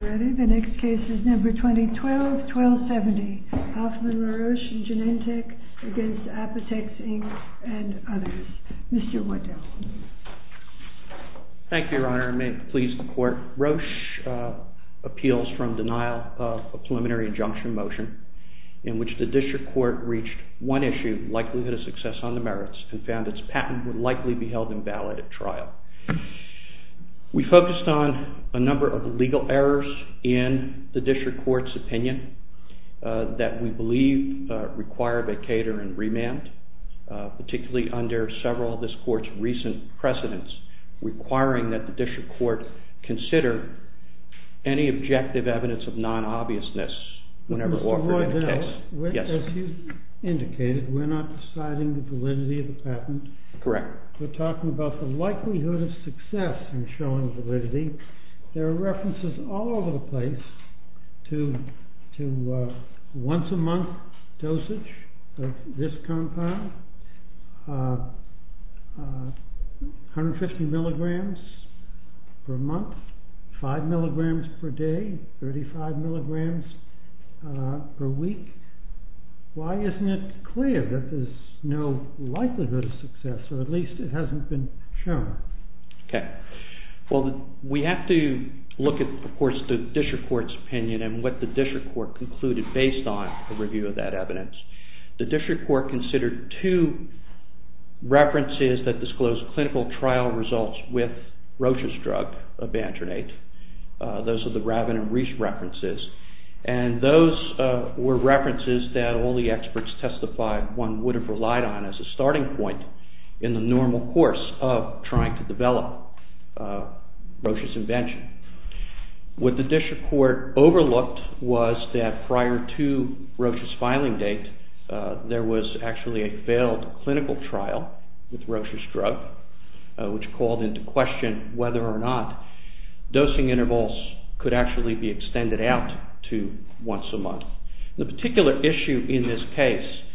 The next case is number 2012-1270. Hoffmann-La Roche v. Genentech v. Apotex, Inc. and others. Mr. Whitehouse. Thank you, Your Honor, and may it please the Court, Roche appeals from denial of a preliminary injunction motion in which the district court reached one issue, likelihood of success on the merits, and found its patent would likely be held invalid at trial. We focused on a number of legal errors in the district court's opinion that we believe required a cater and remand, particularly under several of this court's recent precedents requiring that the district court consider any objective evidence of non-obviousness whenever offered in a case. As you indicated, we're not deciding the validity of the patent. We're talking about the likelihood of success in showing validity. There are references all over the place to once-a-month dosage of this compound, 150 mg per month, 5 mg per day, 35 mg per week. Why isn't it clear that there's no likelihood of success, or at least it hasn't been shown? Okay. Well, we have to look at, of course, the district court's opinion and what the district court concluded based on a review of that evidence. The district court considered two references that disclosed clinical trial results with Roche's drug, Abandronate. Those are the Rabin and Reese references, and those were references that only experts testified one would have relied on as a starting point in the normal course of trying to develop Roche's invention. What the district court overlooked was that prior to Roche's filing date, there was actually a failed clinical trial with Roche's drug, which called into question whether or not dosing intervals could actually be extended out to once a month. The particular issue in this case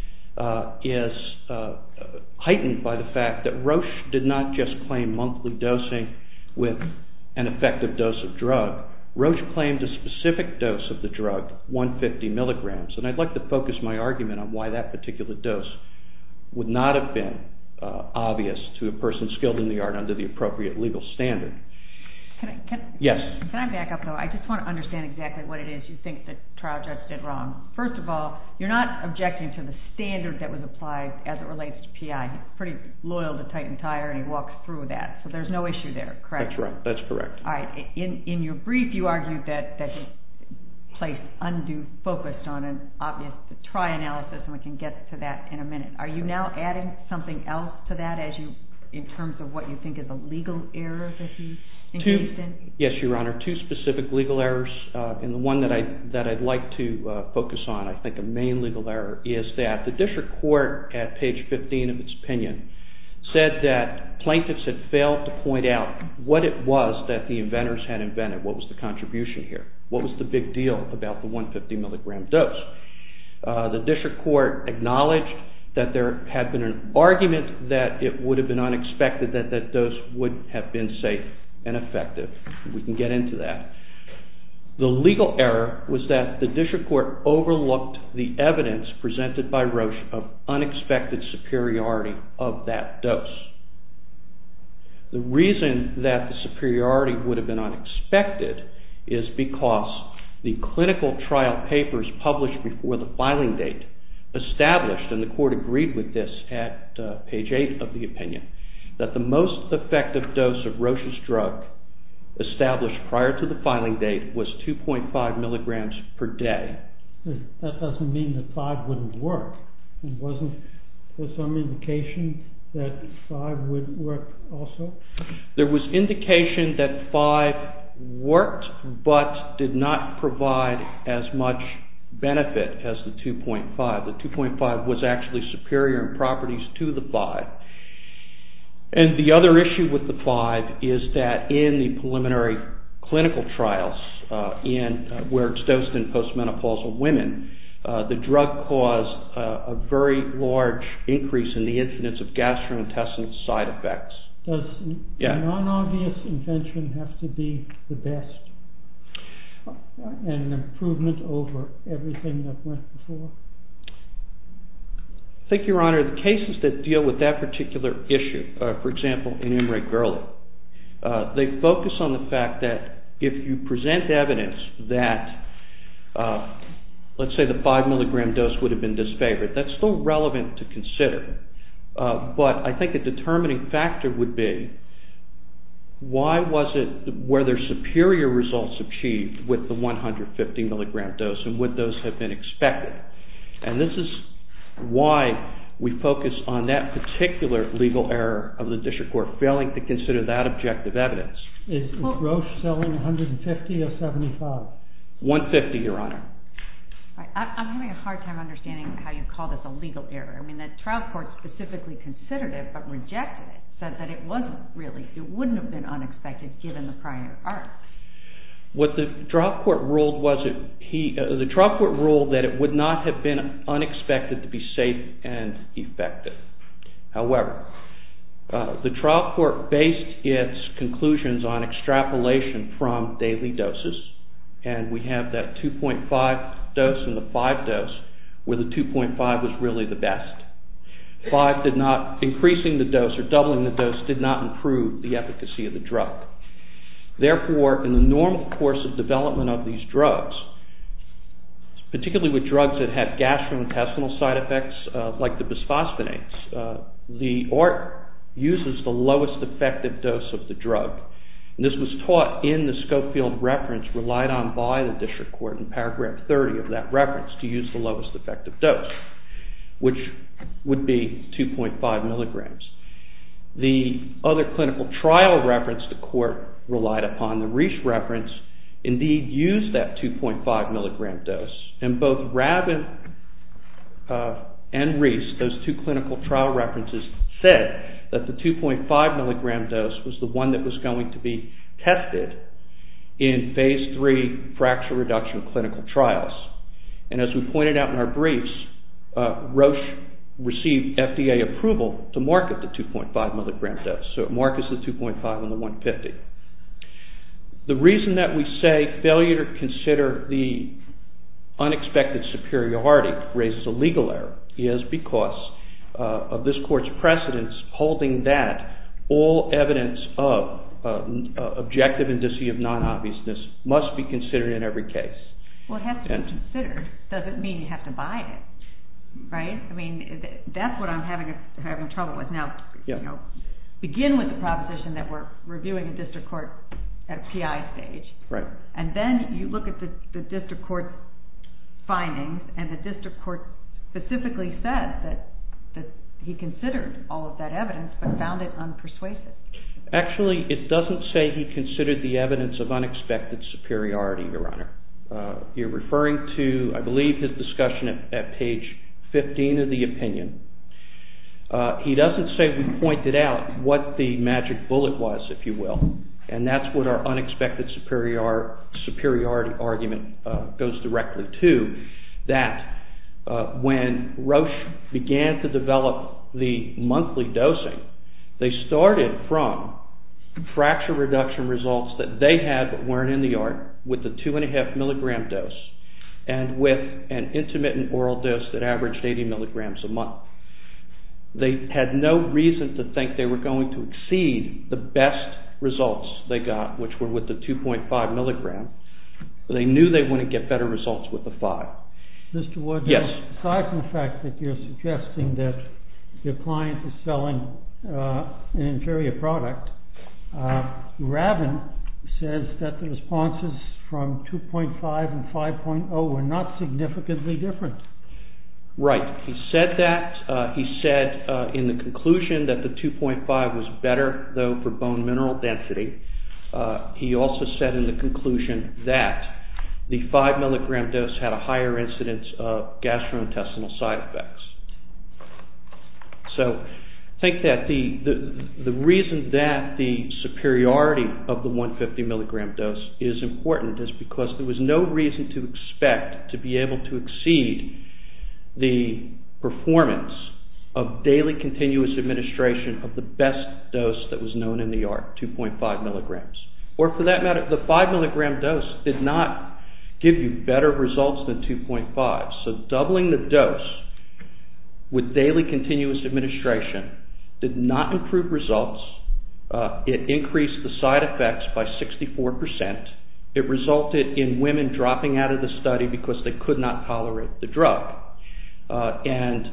is heightened by the fact that Roche did not just claim monthly dosing with an effective dose of drug. Roche claimed a specific dose of the drug, 150 mg, and I'd like to focus my argument on why that particular dose would not have been obvious to a person skilled in the art under the appropriate legal standard. Can I back up, though? I just want to understand exactly what it is you think the trial judge did wrong. First of all, you're not objecting to the standard that was applied as it relates to PI. He's pretty loyal to Titan Tire, and he walks through with that, so there's no issue there, correct? That's correct. In your brief, you argued that he placed undue focus on an obvious trial analysis, and we can get to that in a minute. Are you now adding something else to that in terms of what you think is a legal error that he engaged in? Yes, Your Honor. Two specific legal errors, and the one that I'd like to focus on, I think, a main legal error, is that the district court at page 15 of its opinion said that plaintiffs had failed to point out what it was that the inventors had invented. What was the contribution here? What was the big deal about the 150 mg dose? The district court acknowledged that there had been an argument that it would have been unexpected that that dose would have been safe and effective. We can get into that. The legal error was that the district court overlooked the evidence presented by Roche of unexpected superiority of that dose. The reason that the superiority would have been unexpected is because the clinical trial papers published before the filing date established, and the court agreed with this at page 8 of the opinion, that the most effective dose of Roche's drug established prior to the filing date was 2.5 mg per day. That doesn't mean that 5 wouldn't work. Wasn't there some indication that 5 wouldn't work also? The drug caused a very large increase in the incidence of gastrointestinal side effects. Does the non-obvious invention have to be the best, an improvement over everything that went before? I think, Your Honor, the cases that deal with that particular issue, for example, enumerate Gurley, they focus on the fact that if you present evidence that, let's say the 5 mg dose would have been disfavored, that's still relevant to consider. But I think a determining factor would be, why was it where there's superior results achieved with the 150 mg dose, and would those have been expected? And this is why we focus on that particular legal error of the district court failing to consider that objective evidence. Is Roche selling 150 or 75? 150, Your Honor. I'm having a hard time understanding how you call this a legal error. I mean, the trial court specifically considered it but rejected it, said that it wasn't really, it wouldn't have been unexpected given the prior art. What the trial court ruled was that it would not have been unexpected to be safe and effective. However, the trial court based its conclusions on extrapolation from daily doses, and we have that 2.5 dose and the 5 dose where the 2.5 was really the best. 5 did not, increasing the dose or doubling the dose did not improve the efficacy of the drug. Therefore, in the normal course of development of these drugs, particularly with drugs that have gastrointestinal side effects like the bisphosphonates, the art uses the lowest effective dose of the drug. This was taught in the Schofield reference relied on by the district court in paragraph 30 of that reference to use the lowest effective dose, which would be 2.5 mg. The other clinical trial reference the court relied upon, the Reese reference, indeed used that 2.5 mg dose. And both Rabin and Reese, those two clinical trial references said that the 2.5 mg dose was the one that was going to be tested in phase 3 fracture reduction clinical trials. And as we pointed out in our briefs, Roche received FDA approval to market the 2.5 mg dose, so it markets the 2.5 and the 150. The reason that we say failure to consider the unexpected superiority raises a legal error is because of this court's precedence holding that all evidence of objective indicia of non-obviousness must be considered in every case. Well, it has to be considered. It doesn't mean you have to buy it, right? I mean, that's what I'm having trouble with now. Begin with the proposition that we're reviewing a district court at a PI stage, and then you look at the district court findings, and the district court specifically said that he considered all of that evidence but found it unpersuasive. Actually, it doesn't say he considered the evidence of unexpected superiority, Your Honor. You're referring to, I believe, his discussion at page 15 of the opinion. He doesn't say we pointed out what the magic bullet was, if you will, and that's what our unexpected superiority argument goes directly to, that when Roche began to develop the monthly dosing, they started from fracture reduction results that they had but weren't in the art with the 2.5 milligram dose and with an intermittent oral dose that averaged 80 milligrams a month. They had no reason to think they were going to exceed the best results they got, which were with the 2.5 milligram. They knew they wouldn't get better results with the 5. Mr. Wood, aside from the fact that you're suggesting that your client is selling an inferior product, Ravin says that the responses from 2.5 and 5.0 were not significantly different. Right. He said that. He said in the conclusion that the 2.5 was better, though, for bone mineral density. He also said in the conclusion that the 5 milligram dose had a higher incidence of gastrointestinal side effects. So, I think that the reason that the superiority of the 150 milligram dose is important is because there was no reason to expect to be able to exceed the performance of daily continuous administration of the best dose that was known in the art, 2.5 milligrams. Or, for that matter, the 5 milligram dose did not give you better results than 2.5. So, doubling the dose with daily continuous administration did not improve results. It increased the side effects by 64 percent. It resulted in women dropping out of the study because they could not tolerate the drug. And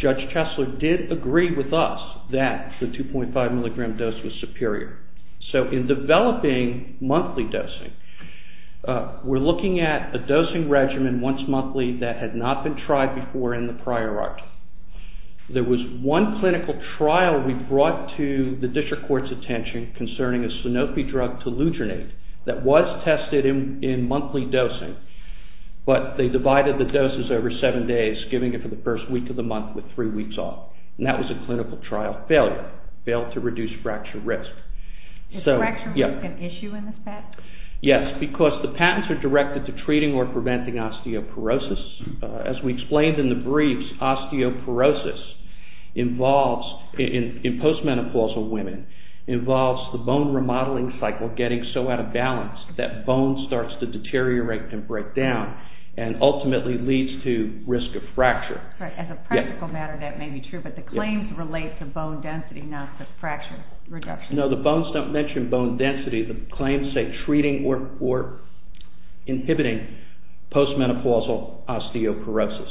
Judge Chesler did agree with us that the 2.5 milligram dose was superior. So, in developing monthly dosing, we're looking at a dosing regimen once monthly that had not been tried before in the prior art. There was one clinical trial we brought to the district court's attention concerning a Sanofi drug, Telogenate, that was tested in monthly dosing, but they divided the doses over seven days, giving it for the first week of the month with three weeks off. And that was a clinical trial failure, failed to reduce fracture risk. Is fracture risk an issue in this patent? Yes, because the patents are directed to treating or preventing osteoporosis. As we explained in the briefs, osteoporosis involves, in postmenopausal women, involves the bone remodeling cycle getting so out of balance that bone starts to deteriorate and break down and ultimately leads to risk of fracture. As a practical matter that may be true, but the claims relate to bone density, not fracture reduction. No, the bones don't mention bone density. The claims say treating or inhibiting postmenopausal osteoporosis.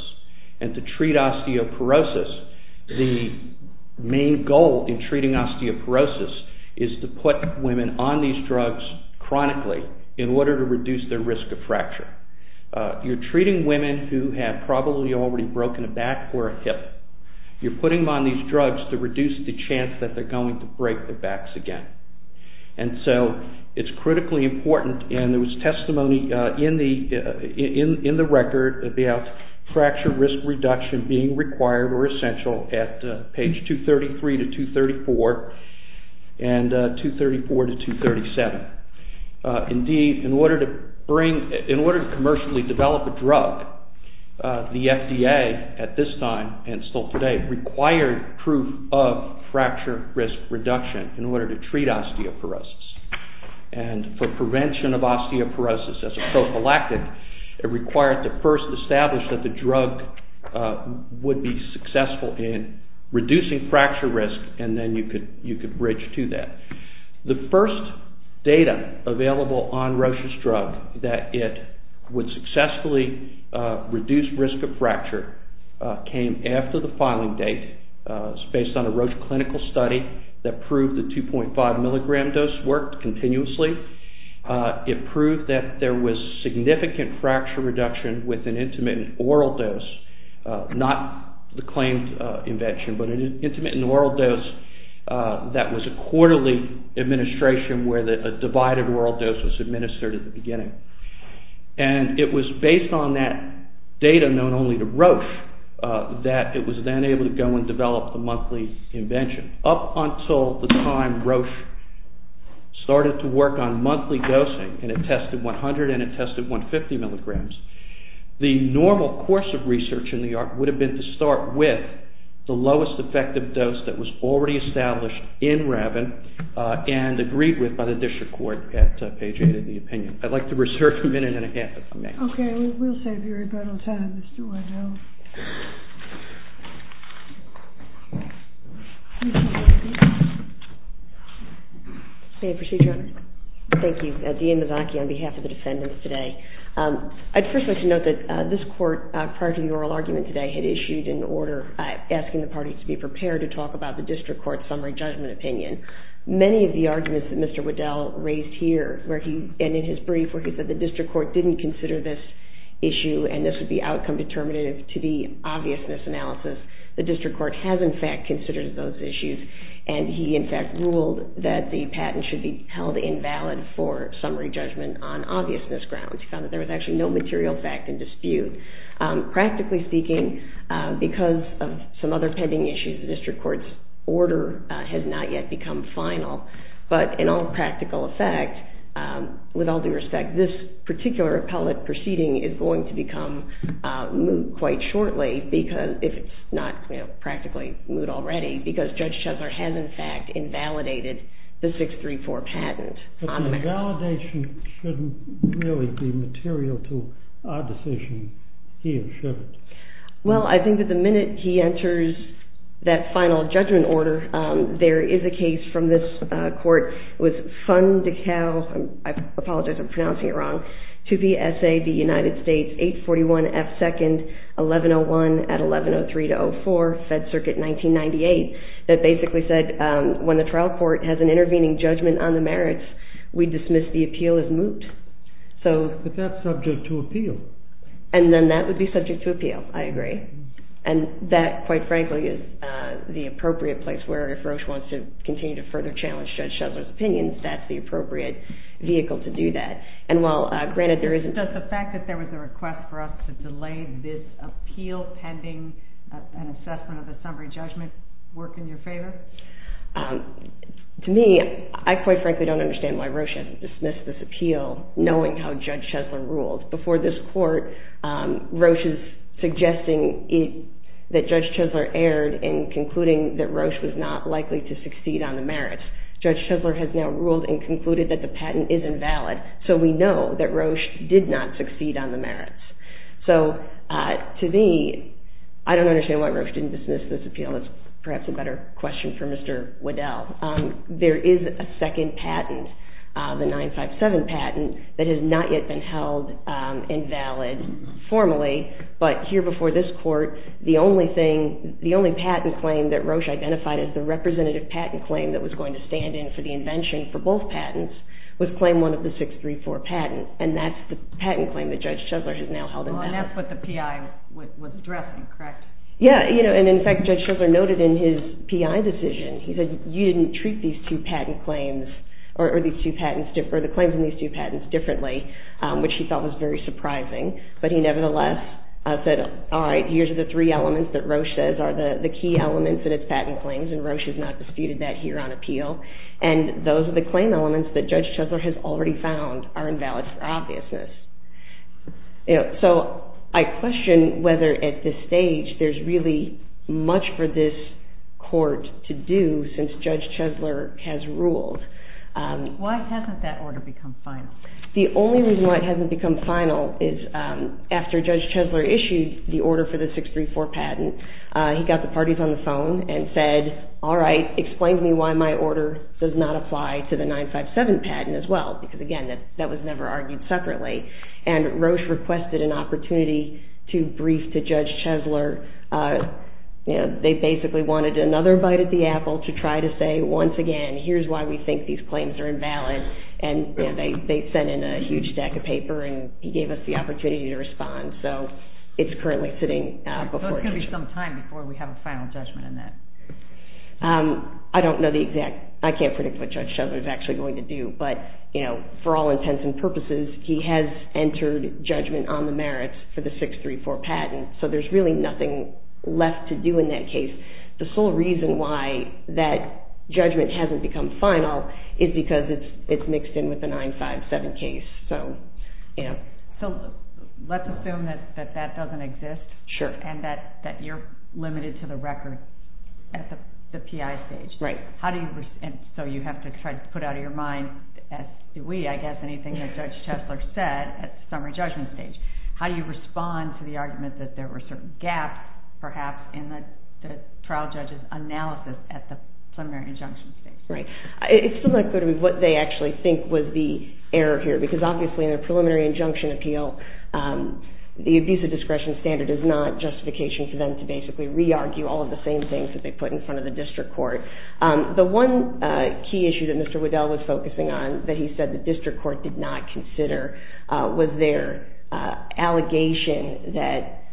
And to treat osteoporosis, the main goal in treating osteoporosis is to put women on these drugs chronically in order to reduce their risk of fracture. You're treating women who have probably already broken a back or a hip. You're putting them on these drugs to reduce the chance that they're going to break their backs again. And so it's critically important and there was testimony in the record about fracture risk reduction being required or essential at page 233 to 234 and 234 to 237. Indeed, in order to commercially develop a drug, the FDA at this time and still today required proof of fracture risk reduction in order to treat osteoporosis. And for prevention of osteoporosis as a prophylactic, it required to first establish that the drug would be successful in reducing fracture risk and then you could bridge to that. The first data available on Roche's drug that it would successfully reduce risk of fracture came after the filing date. It's based on a Roche clinical study that proved the 2.5 milligram dose worked continuously. It proved that there was significant fracture reduction with an intermittent oral dose, not the claimed invention, but an intermittent oral dose that was a quarterly administration where a divided oral dose was administered at the beginning. And it was based on that data known only to Roche that it was then able to go and develop the monthly invention. Up until the time Roche started to work on monthly dosing and it tested 100 and it tested 150 milligrams, the normal course of research in New York would have been to start with the lowest effective dose that was already established in Rabin and agreed with by the district court at page 8 of the opinion. I'd like to reserve a minute and a half if I may. Okay, we'll save you a little time, Mr. Waddell. Thank you, Dean Mazzocchi, on behalf of the defendants today. I'd first like to note that this court, prior to the oral argument today, had issued an order asking the parties to be prepared to talk about the district court's summary judgment opinion. Many of the arguments that Mr. Waddell raised here and in his brief where he said the district court didn't consider this issue and this would be outcome determinative to the obviousness analysis, the district court has in fact considered those issues. And he in fact ruled that the patent should be held invalid for summary judgment on obviousness grounds. He found that there was actually no material fact in dispute. Practically speaking, because of some other pending issues, the district court's order has not yet become final. But in all practical effect, with all due respect, this particular appellate proceeding is going to become moot quite shortly, if it's not practically moot already, because Judge Chesler has in fact invalidated the 634 patent. But the invalidation shouldn't really be material to our decision, he assures us. Well, I think that the minute he enters that final judgment order, there is a case from this court with Fundical, I apologize, I'm pronouncing it wrong, to the S.A., the United States, 841 F. 2nd, 1101 at 1103-04, Fed Circuit 1998, that basically said when the trial court has an intervening judgment on the merits, we dismiss the appeal as moot. But that's subject to appeal. And then that would be subject to appeal, I agree. And that, quite frankly, is the appropriate place where if Roche wants to continue to further challenge Judge Chesler's opinions, that's the appropriate vehicle to do that. Does the fact that there was a request for us to delay this appeal pending an assessment of the summary judgment work in your favor? To me, I quite frankly don't understand why Roche hasn't dismissed this appeal, knowing how Judge Chesler ruled. Before this court, Roche is suggesting that Judge Chesler erred in concluding that Roche was not likely to succeed on the merits. Judge Chesler has now ruled and concluded that the patent is invalid, so we know that Roche did not succeed on the merits. So, to me, I don't understand why Roche didn't dismiss this appeal. That's perhaps a better question for Mr. Waddell. There is a second patent, the 957 patent, that has not yet been held invalid formally. But here before this court, the only patent claim that Roche identified as the representative patent claim that was going to stand in for the invention for both patents was claim one of the 634 patents. And that's the patent claim that Judge Chesler has now held invalid. And that's what the PI was addressing, correct? Yeah, and in fact, Judge Chesler noted in his PI decision, he said, you didn't treat these two patent claims or the claims in these two patents differently, which he felt was very surprising. But he nevertheless said, all right, here's the three elements that Roche says are the key elements in its patent claims, and Roche has not disputed that here on appeal. And those are the claim elements that Judge Chesler has already found are invalid for obviousness. So I question whether at this stage there's really much for this court to do since Judge Chesler has ruled. Why hasn't that order become final? The only reason why it hasn't become final is after Judge Chesler issued the order for the 634 patent, he got the parties on the phone and said, all right, explain to me why my order does not apply to the 957 patent as well. Because again, that was never argued separately. And Roche requested an opportunity to brief to Judge Chesler. They basically wanted another bite at the apple to try to say, once again, here's why we think these claims are invalid. And they sent in a huge stack of paper, and he gave us the opportunity to respond. So it's currently sitting before us. So there's going to be some time before we have a final judgment on that. I don't know the exact. I can't predict what Judge Chesler is actually going to do. But for all intents and purposes, he has entered judgment on the merits for the 634 patent. So there's really nothing left to do in that case. The sole reason why that judgment hasn't become final is because it's mixed in with the 957 case. So let's assume that that doesn't exist and that you're limited to the record at the PI stage. Right. So you have to try to put out of your mind, as do we, I guess, anything that Judge Chesler said at the summary judgment stage. How do you respond to the argument that there were certain gaps, perhaps, in the trial judge's analysis at the preliminary injunction stage? Right. It's still not clear to me what they actually think was the error here. Because, obviously, in a preliminary injunction appeal, the abusive discretion standard is not justification for them to basically re-argue all of the same things that they put in front of the district court. The one key issue that Mr. Waddell was focusing on that he said the district court did not consider was their allegation that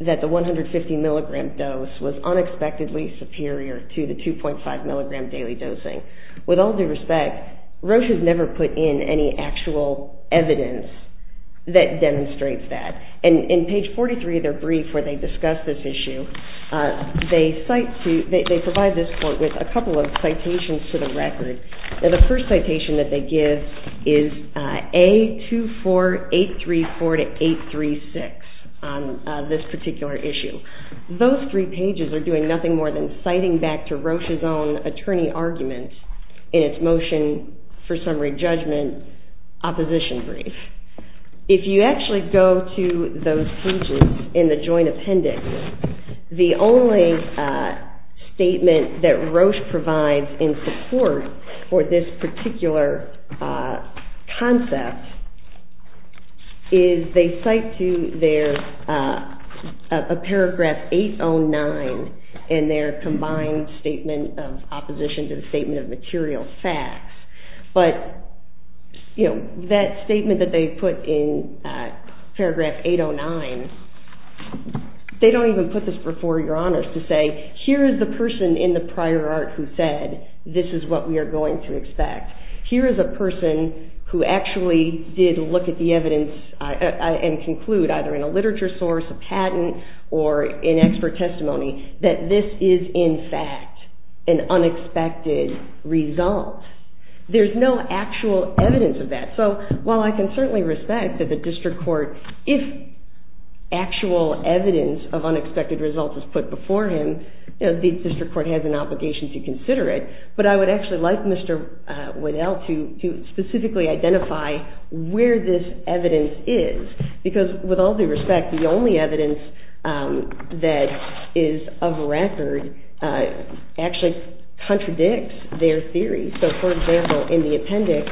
the 150 milligram dose was unexpectedly superior to the 2.5 milligram daily dosing. With all due respect, Roche has never put in any actual evidence that demonstrates that. In page 43 of their brief where they discuss this issue, they provide this court with a couple of citations to the record. The first citation that they give is A24834-836 on this particular issue. Those three pages are doing nothing more than citing back to Roche's own attorney argument in its motion for summary judgment opposition brief. If you actually go to those pages in the joint appendix, the only statement that Roche provides in support for this particular concept is they cite to there a paragraph 809 in their combined statement of opposition to the statement of material facts. That statement that they put in paragraph 809, they don't even put this before your honors to say here is the person in the prior art who said this is what we are going to expect. Here is a person who actually did look at the evidence and conclude, either in a literature source, a patent, or in expert testimony, that this is in fact an unexpected result. There is no actual evidence of that. While I can certainly respect that the district court, if actual evidence of unexpected results is put before him, the district court has an obligation to consider it, but I would actually like Mr. Waddell to specifically identify where this evidence is because with all due respect, the only evidence that is of record actually contradicts their theory. For example, in the appendix,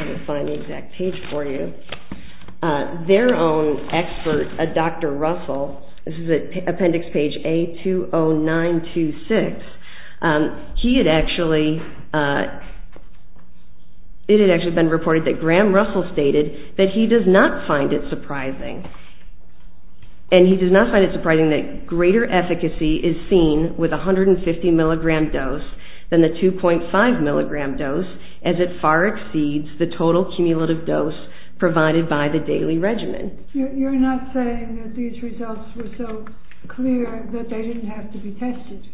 let me find the exact page for you, their own expert, Dr. Russell, this is appendix page A20926, it had actually been reported that Graham Russell stated that he does not find it surprising, and he does not find it surprising that greater efficacy is seen with a 150 mg dose than the 2.5 mg dose as it far exceeds the total cumulative dose provided by the daily regimen. You're not saying that these results were so clear that they didn't have to be tested?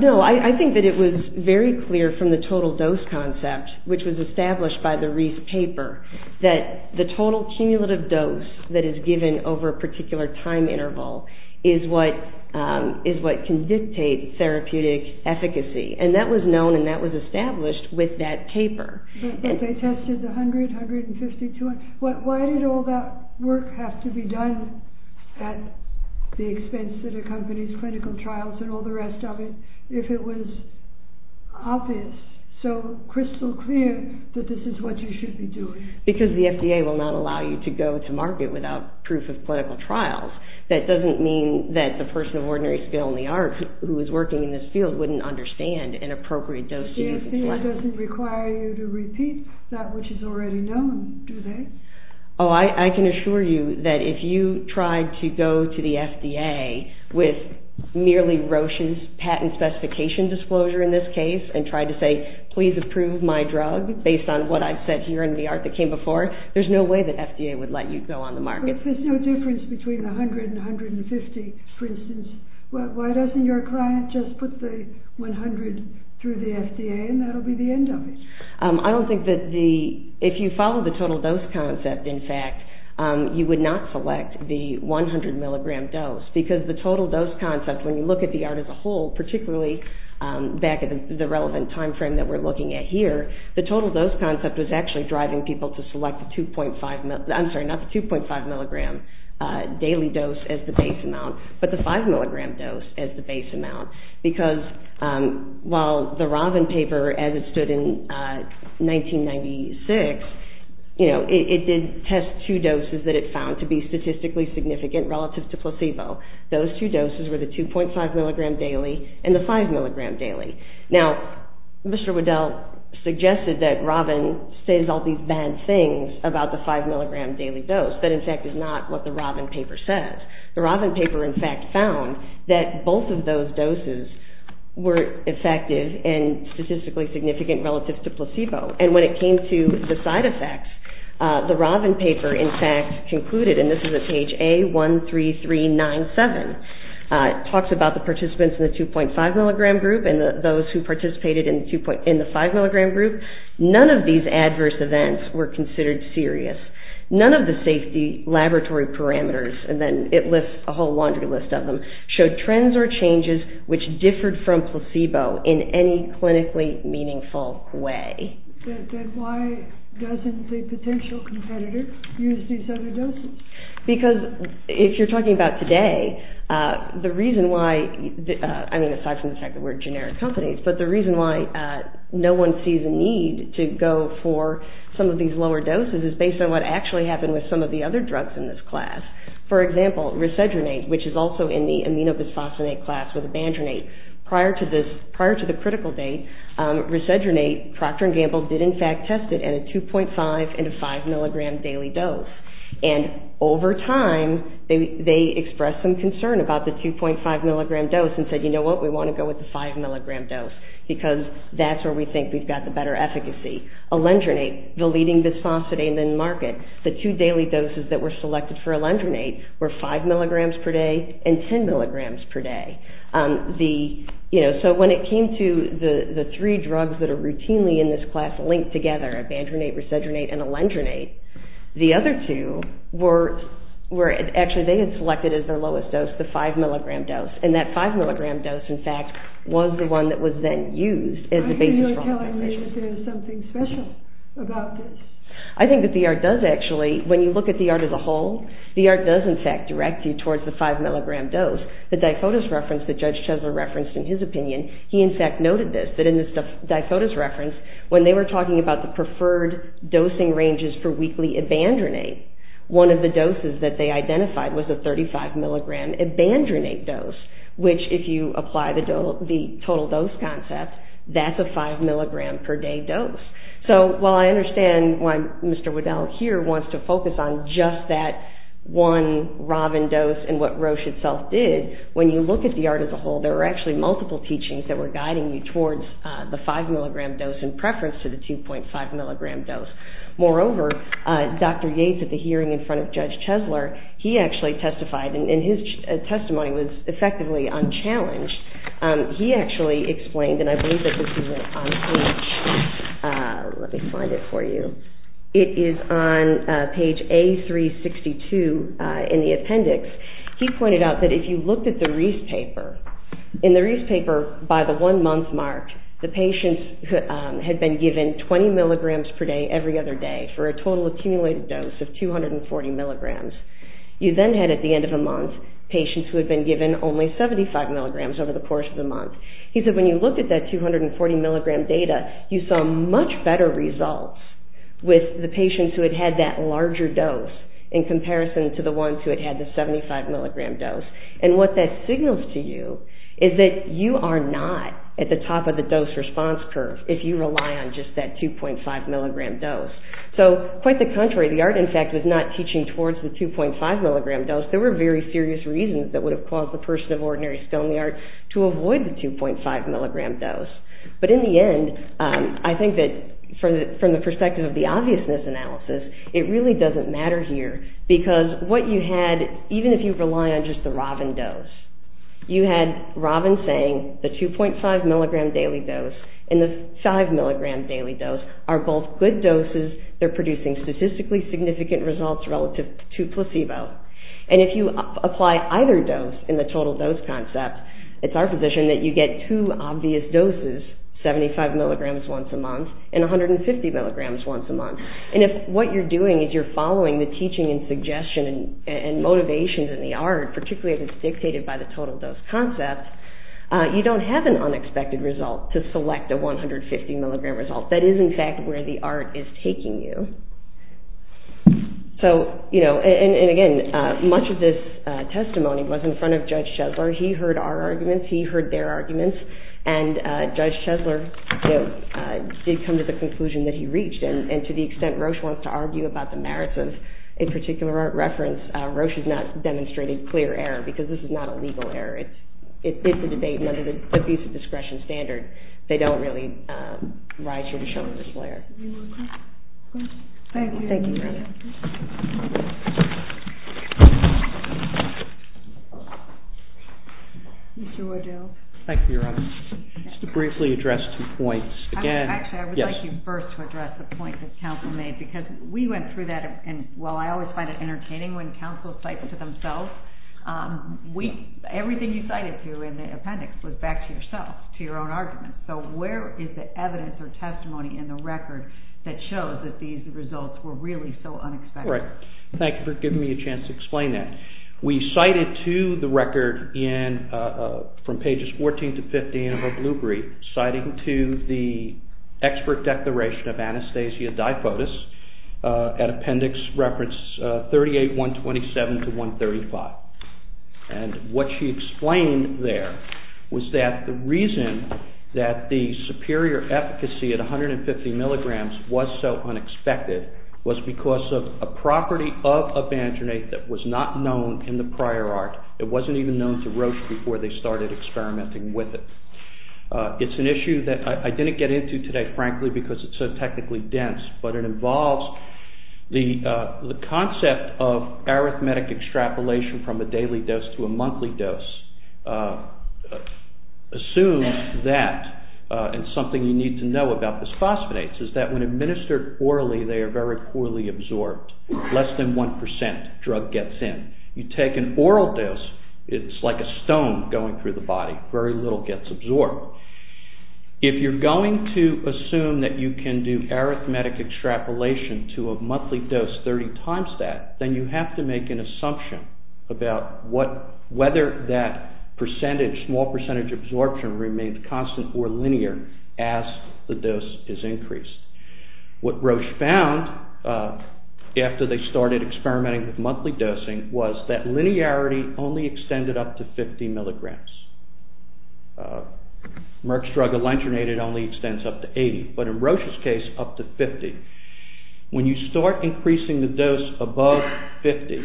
No, I think that it was very clear from the total dose concept, which was established by the Reese paper, that the total cumulative dose that is given over a particular time interval is what can dictate therapeutic efficacy, and that was known and that was established with that paper. But they tested 100, 150, 200, why did all that work have to be done at the expense that accompanies clinical trials and all the rest of it if it was obvious, so crystal clear that this is what you should be doing? Because the FDA will not allow you to go to market without proof of clinical trials, that doesn't mean that the person of ordinary skill in the art who is working in this field wouldn't understand an appropriate dose. The FDA doesn't require you to repeat that which is already known, do they? Oh, I can assure you that if you tried to go to the FDA with merely Roshan's patent specification disclosure in this case and tried to say, please approve my drug based on what I've said here in the art that came before, there's no way that FDA would let you go on the market. But if there's no difference between 100 and 150, for instance, why doesn't your client just put the 100 through the FDA and that will be the end of it? I don't think that the, if you follow the total dose concept in fact, you would not select the 100 milligram dose because the total dose concept, when you look at the art as a whole, particularly back at the relevant time frame that we're looking at here, the total dose concept was actually driving people to select the 2.5, I'm sorry, not the 2.5 milligram daily dose as the base amount, but the 5 milligram dose as the base amount. Because while the Robin paper as it stood in 1996, you know, it did test two doses that it found to be statistically significant relative to placebo. Those two doses were the 2.5 milligram daily and the 5 milligram daily. Now, Mr. Waddell suggested that Robin says all these bad things about the 5 milligram daily dose. That in fact is not what the Robin paper says. The Robin paper in fact found that both of those doses were effective and statistically significant relative to placebo. And when it came to the side effects, the Robin paper in fact concluded, and this is at page A13397, it talks about the participants in the 2.5 milligram group and those who participated in the 5 milligram group, none of these adverse events were considered serious. None of the safety laboratory parameters, and then it lists a whole laundry list of them, showed trends or changes which differed from placebo in any clinically meaningful way. Then why doesn't the potential competitor use these other doses? Because if you're talking about today, the reason why, I mean aside from the fact that we're generic companies, but the reason why no one sees a need to go for some of these lower doses is based on what actually happened with some of the other drugs in this class. For example, risedronate, which is also in the aminobisphosphonate class with abandronate. Prior to the critical date, risedronate, Procter & Gamble did in fact test it at a 2.5 and a 5 milligram daily dose. And over time, they expressed some concern about the 2.5 milligram dose and said, you know what, we want to go with the 5 milligram dose because that's where we think we've got the better efficacy. Alendronate, the leading bisphosphonate in the market, the two daily doses that were selected for alendronate were 5 milligrams per day and 10 milligrams per day. So when it came to the three drugs that are routinely in this class linked together, abandronate, risedronate, and alendronate, the other two were, actually they had selected as their lowest dose the 5 milligram dose. And that 5 milligram dose, in fact, was the one that was then used as the basis for alendronate. Why are you not telling me that there's something special about this? I think that the ART does actually, when you look at the ART as a whole, the ART does in fact direct you towards the 5 milligram dose. The difodus reference that Judge Chesler referenced in his opinion, he in fact noted this, that in this difodus reference, when they were talking about the preferred dosing ranges for weekly abandronate, one of the doses that they identified was a 35 milligram abandronate dose, which if you apply the total dose concept, that's a 5 milligram per day dose. So while I understand why Mr. Waddell here wants to focus on just that one Rovin dose and what Roche itself did, when you look at the ART as a whole, there are actually multiple teachings that were guiding you towards the 5 milligram dose in preference to the 2.5 milligram dose. Moreover, Dr. Yates at the hearing in front of Judge Chesler, he actually testified, and his testimony was effectively unchallenged. He actually explained, and I believe that this is on page, let me find it for you, it is on page A362 in the appendix. He pointed out that if you looked at the Reece paper, in the Reece paper, by the one month mark, the patients had been given 20 milligrams per day every other day for a total accumulated dose of 240 milligrams. You then had at the end of the month patients who had been given only 75 milligrams over the course of the month. He said when you looked at that 240 milligram data, you saw much better results with the patients who had had that larger dose in comparison to the ones who had had the 75 milligram dose. And what that signals to you is that you are not at the top of the dose response curve if you rely on just that 2.5 milligram dose. So, quite the contrary, the ART, in fact, was not teaching towards the 2.5 milligram dose. There were very serious reasons that would have caused the person of ordinary skill in the ART to avoid the 2.5 milligram dose. But in the end, I think that from the perspective of the obviousness analysis, it really doesn't matter here because what you had, even if you rely on just the Robin dose, you had Robin saying the 2.5 milligram daily dose and the 5 milligram daily dose are both good doses. They're producing statistically significant results relative to placebo. And if you apply either dose in the total dose concept, it's our position that you get two obvious doses, 75 milligrams once a month and 150 milligrams once a month. And if what you're doing is you're following the teaching and suggestion and motivations in the ART, particularly if it's dictated by the total dose concept, you don't have an unexpected result to select a 150 milligram result. That is, in fact, where the ART is taking you. So, you know, and again, much of this testimony was in front of Judge Shedler. He heard our arguments. He heard their arguments. And Judge Shedler did come to the conclusion that he reached, and to the extent Roche wants to argue about the merits of a particular ART reference, Roche has not demonstrated clear error because this is not a legal error. It's a debate, and under the abuse of discretion standard, they don't really rise here to show the display of error. Thank you. Mr. Waddell. Thank you, Your Honor. Just to briefly address two points. Actually, I would like you first to address the point that counsel made because we went through that, and while I always find it entertaining when counsel cites to themselves, everything you cited to in the appendix was back to yourself, to your own arguments. So where is the evidence or testimony in the record that shows that these results were really so unexpected? Right. Thank you for giving me a chance to explain that. We cited to the record from pages 14 to 15 of her blue brief, citing to the expert declaration of Anastasia Dipotis at appendix reference 38-127 to 135. And what she explained there was that the reason that the superior efficacy at 150 milligrams was so unexpected was because of a property of Avanginate that was not known in the prior art. It wasn't even known to Roche before they started experimenting with it. It's an issue that I didn't get into today, frankly, because it's so technically dense, but it involves the concept of arithmetic extrapolation from a daily dose to a monthly dose. Assume that, and something you need to know about bisphosphonates is that when administered orally, they are very poorly absorbed. Less than 1% drug gets in. You take an oral dose, it's like a stone going through the body. Very little gets absorbed. If you're going to assume that you can do arithmetic extrapolation to a monthly dose 30 times that, then you have to make an assumption about whether that percentage, small percentage absorption, remains constant or linear as the dose is increased. What Roche found after they started experimenting with monthly dosing was that linearity only extended up to 50 milligrams. Merck's drug, Alendronate, it only extends up to 80. But in Roche's case, up to 50. When you start increasing the dose above 50,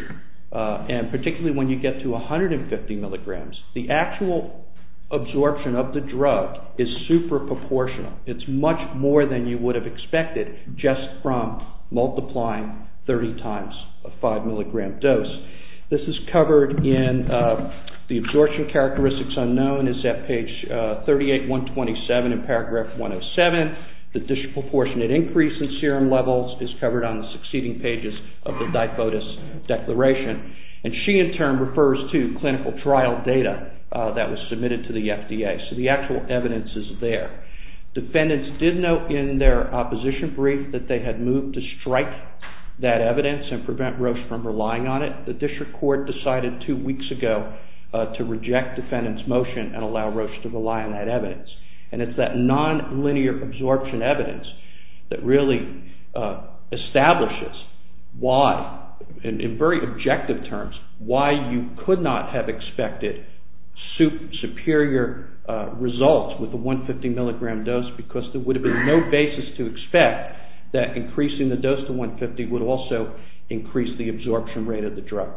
and particularly when you get to 150 milligrams, the actual absorption of the drug is super proportional. It's much more than you would have expected just from multiplying 30 times a 5 milligram dose. This is covered in the absorption characteristics unknown is at page 38-127 in paragraph 107. The disproportionate increase in serum levels is covered on the succeeding pages of the Diphotis Declaration. She, in turn, refers to clinical trial data that was submitted to the FDA. The actual evidence is there. Defendants did note in their opposition brief that they had moved to strike that evidence and prevent Roche from relying on it. The district court decided two weeks ago to reject defendants' motion and allow Roche to rely on that evidence. And it's that non-linear absorption evidence that really establishes why, in very objective terms, why you could not have expected superior results with a 150 milligram dose because there would have been no basis to expect that increasing the dose to 150 would also increase the absorption rate of the drug.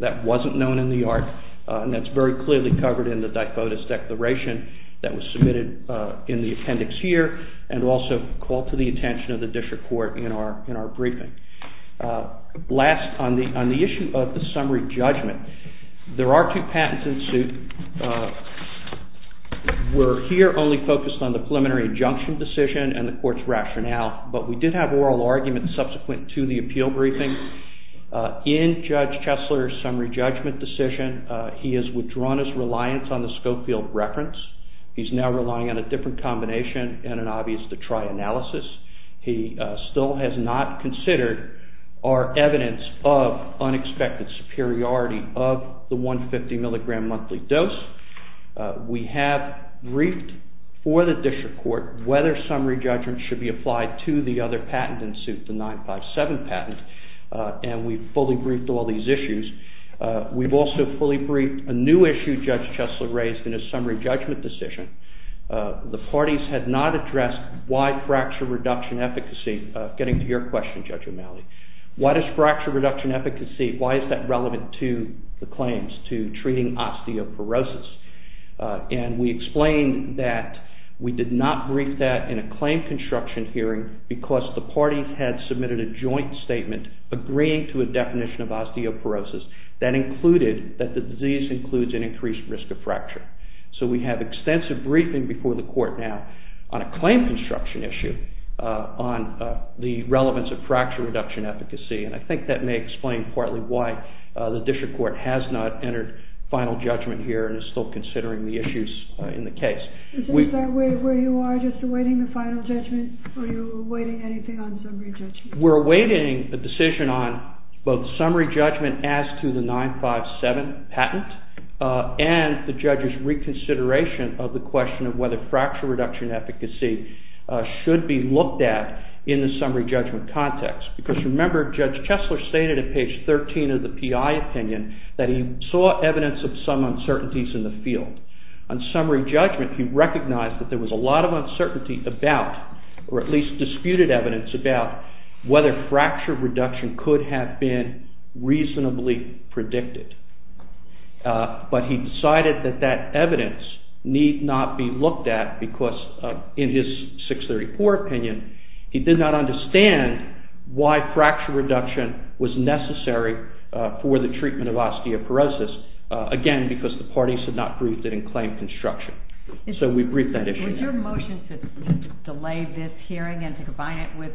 That wasn't known in the art and that's very clearly covered in the Diphotis Declaration that was submitted in the appendix here and also called to the attention of the district court in our briefing. Last, on the issue of the summary judgment, there are two patents in suit. We're here only focused on the preliminary injunction decision and the court's rationale, but we did have oral arguments subsequent to the appeal briefing. In Judge Chesler's summary judgment decision, he has withdrawn his reliance on the Scopefield reference. He's now relying on a different combination and an obvious Detroit analysis. He still has not considered our evidence of unexpected superiority of the 150 milligram monthly dose. We have briefed for the district court whether summary judgment should be applied to the other patent in suit, the 957 patent, and we've fully briefed all these issues. We've also fully briefed a new issue Judge Chesler raised in his summary judgment decision. The parties had not addressed why fracture reduction efficacy, getting to your question, Judge O'Malley. Why does fracture reduction efficacy, why is that relevant to the claims to treating osteoporosis? And we explained that we did not brief that in a claim construction hearing because the parties had submitted a joint statement agreeing to a definition of osteoporosis that included that the disease includes an increased risk of fracture. So we have extensive briefing before the court now on a claim construction issue on the relevance of fracture reduction efficacy, and I think that may explain partly why the district court has not entered final judgment here and is still considering the issues in the case. Is this where you are, just awaiting the final judgment, or are you awaiting anything on summary judgment? We're awaiting a decision on both summary judgment as to the 957 patent and the judge's reconsideration of the question of whether fracture reduction efficacy should be looked at in the summary judgment context because, remember, Judge Chesler stated at page 13 of the PI opinion that he saw evidence of some uncertainties in the field. On summary judgment, he recognized that there was a lot of uncertainty about, or at least disputed evidence about, whether fracture reduction could have been reasonably predicted. But he decided that that evidence need not be looked at because, in his 634 opinion, he did not understand why fracture reduction was necessary for the treatment of osteoporosis, again, because the parties had not briefed it in claim construction. So we briefed that issue. Was your motion to delay this hearing and to combine it with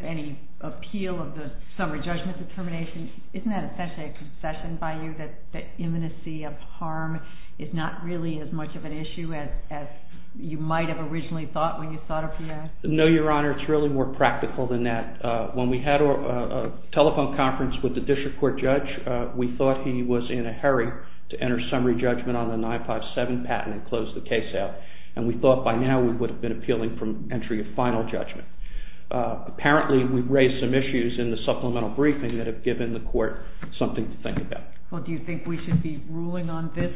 any appeal of the summary judgment determination, isn't that essentially a concession by you that imminency of harm is not really as much of an issue as you might have originally thought when you thought up the act? No, Your Honor, it's really more practical than that. When we had a telephone conference with the district court judge, we thought he was in a hurry to enter summary judgment on the 957 patent and close the case out, and we thought by now we would have been appealing from entry of final judgment. Apparently, we've raised some issues in the supplemental briefing that have given the court something to think about. Well, do you think we should be ruling on this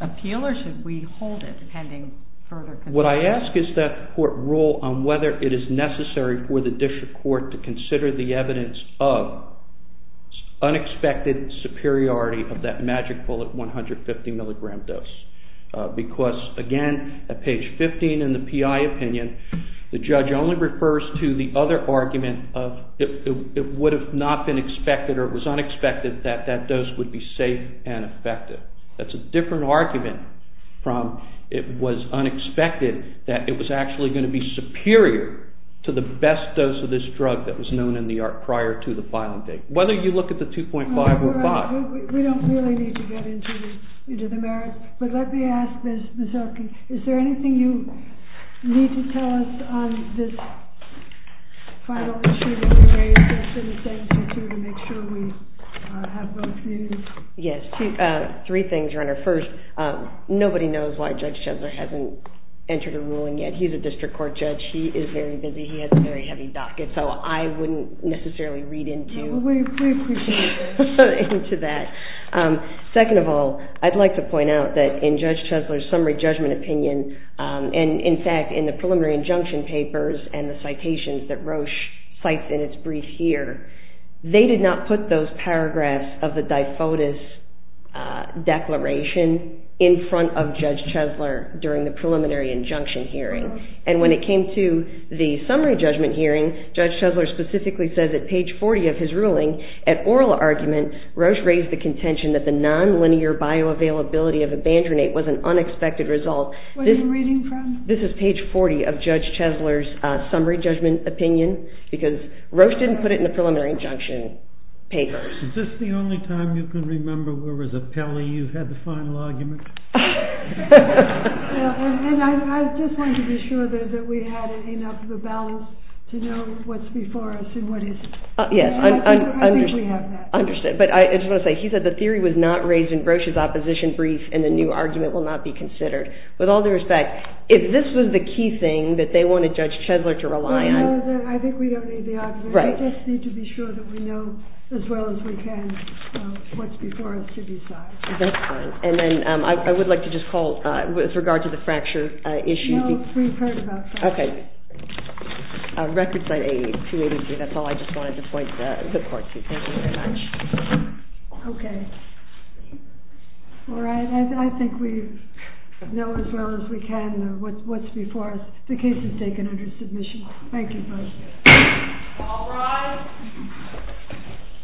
appeal, or should we hold it, depending further? What I ask is that the court rule on whether it is necessary for the district court to consider the evidence of unexpected superiority of that magic bullet 150 mg dose. Because, again, at page 15 in the PI opinion, the judge only refers to the other argument of it would have not been expected or it was unexpected that that dose would be safe and effective. That's a different argument from it was unexpected that it was actually going to be superior to the best dose of this drug that was known in the art prior to the filing date. Whether you look at the 2.5 or 5... We don't really need to get into the merits, but let me ask, Ms. Oakey, is there anything you need to tell us on this final issue that we raised yesterday to make sure we have both views? Yes, three things, Your Honor. First, nobody knows why Judge Chesler hasn't entered a ruling yet. He's a district court judge. He is very busy. He has a very heavy docket, so I wouldn't necessarily read into that. Second of all, I'd like to point out that in Judge Chesler's summary judgment opinion, and, in fact, in the preliminary injunction papers and the citations that Roche cites in its brief here, they did not put those paragraphs of the difodus declaration in front of Judge Chesler during the preliminary injunction hearing. And when it came to the summary judgment hearing, Judge Chesler specifically says that page 40 of his ruling, at oral argument, Roche raised the contention that the nonlinear bioavailability of abandronate was an unexpected result. What are you reading from? This is page 40 of Judge Chesler's summary judgment opinion, because Roche didn't put it in the preliminary injunction papers. Is this the only time you can remember where, as an appellee, you've had the final argument? I just wanted to be sure that we had enough of a balance to know what's before us and what isn't. Yes, I understand. But I just want to say, he said the theory was not raised in Roche's opposition brief, and the new argument will not be considered. With all due respect, if this was the key thing that they wanted Judge Chesler to rely on... I think we don't need the argument. We just need to be sure that we know as well as we can what's before us to decide. That's fine. And then I would like to just call, with regard to the fracture issue... Well, we've heard about fractures. Okay. Record site A, 283. That's all I just wanted to point the court to. Thank you very much. Okay. All right. I think we know as well as we can what's before us. The case is taken under submission. Thank you both. All rise.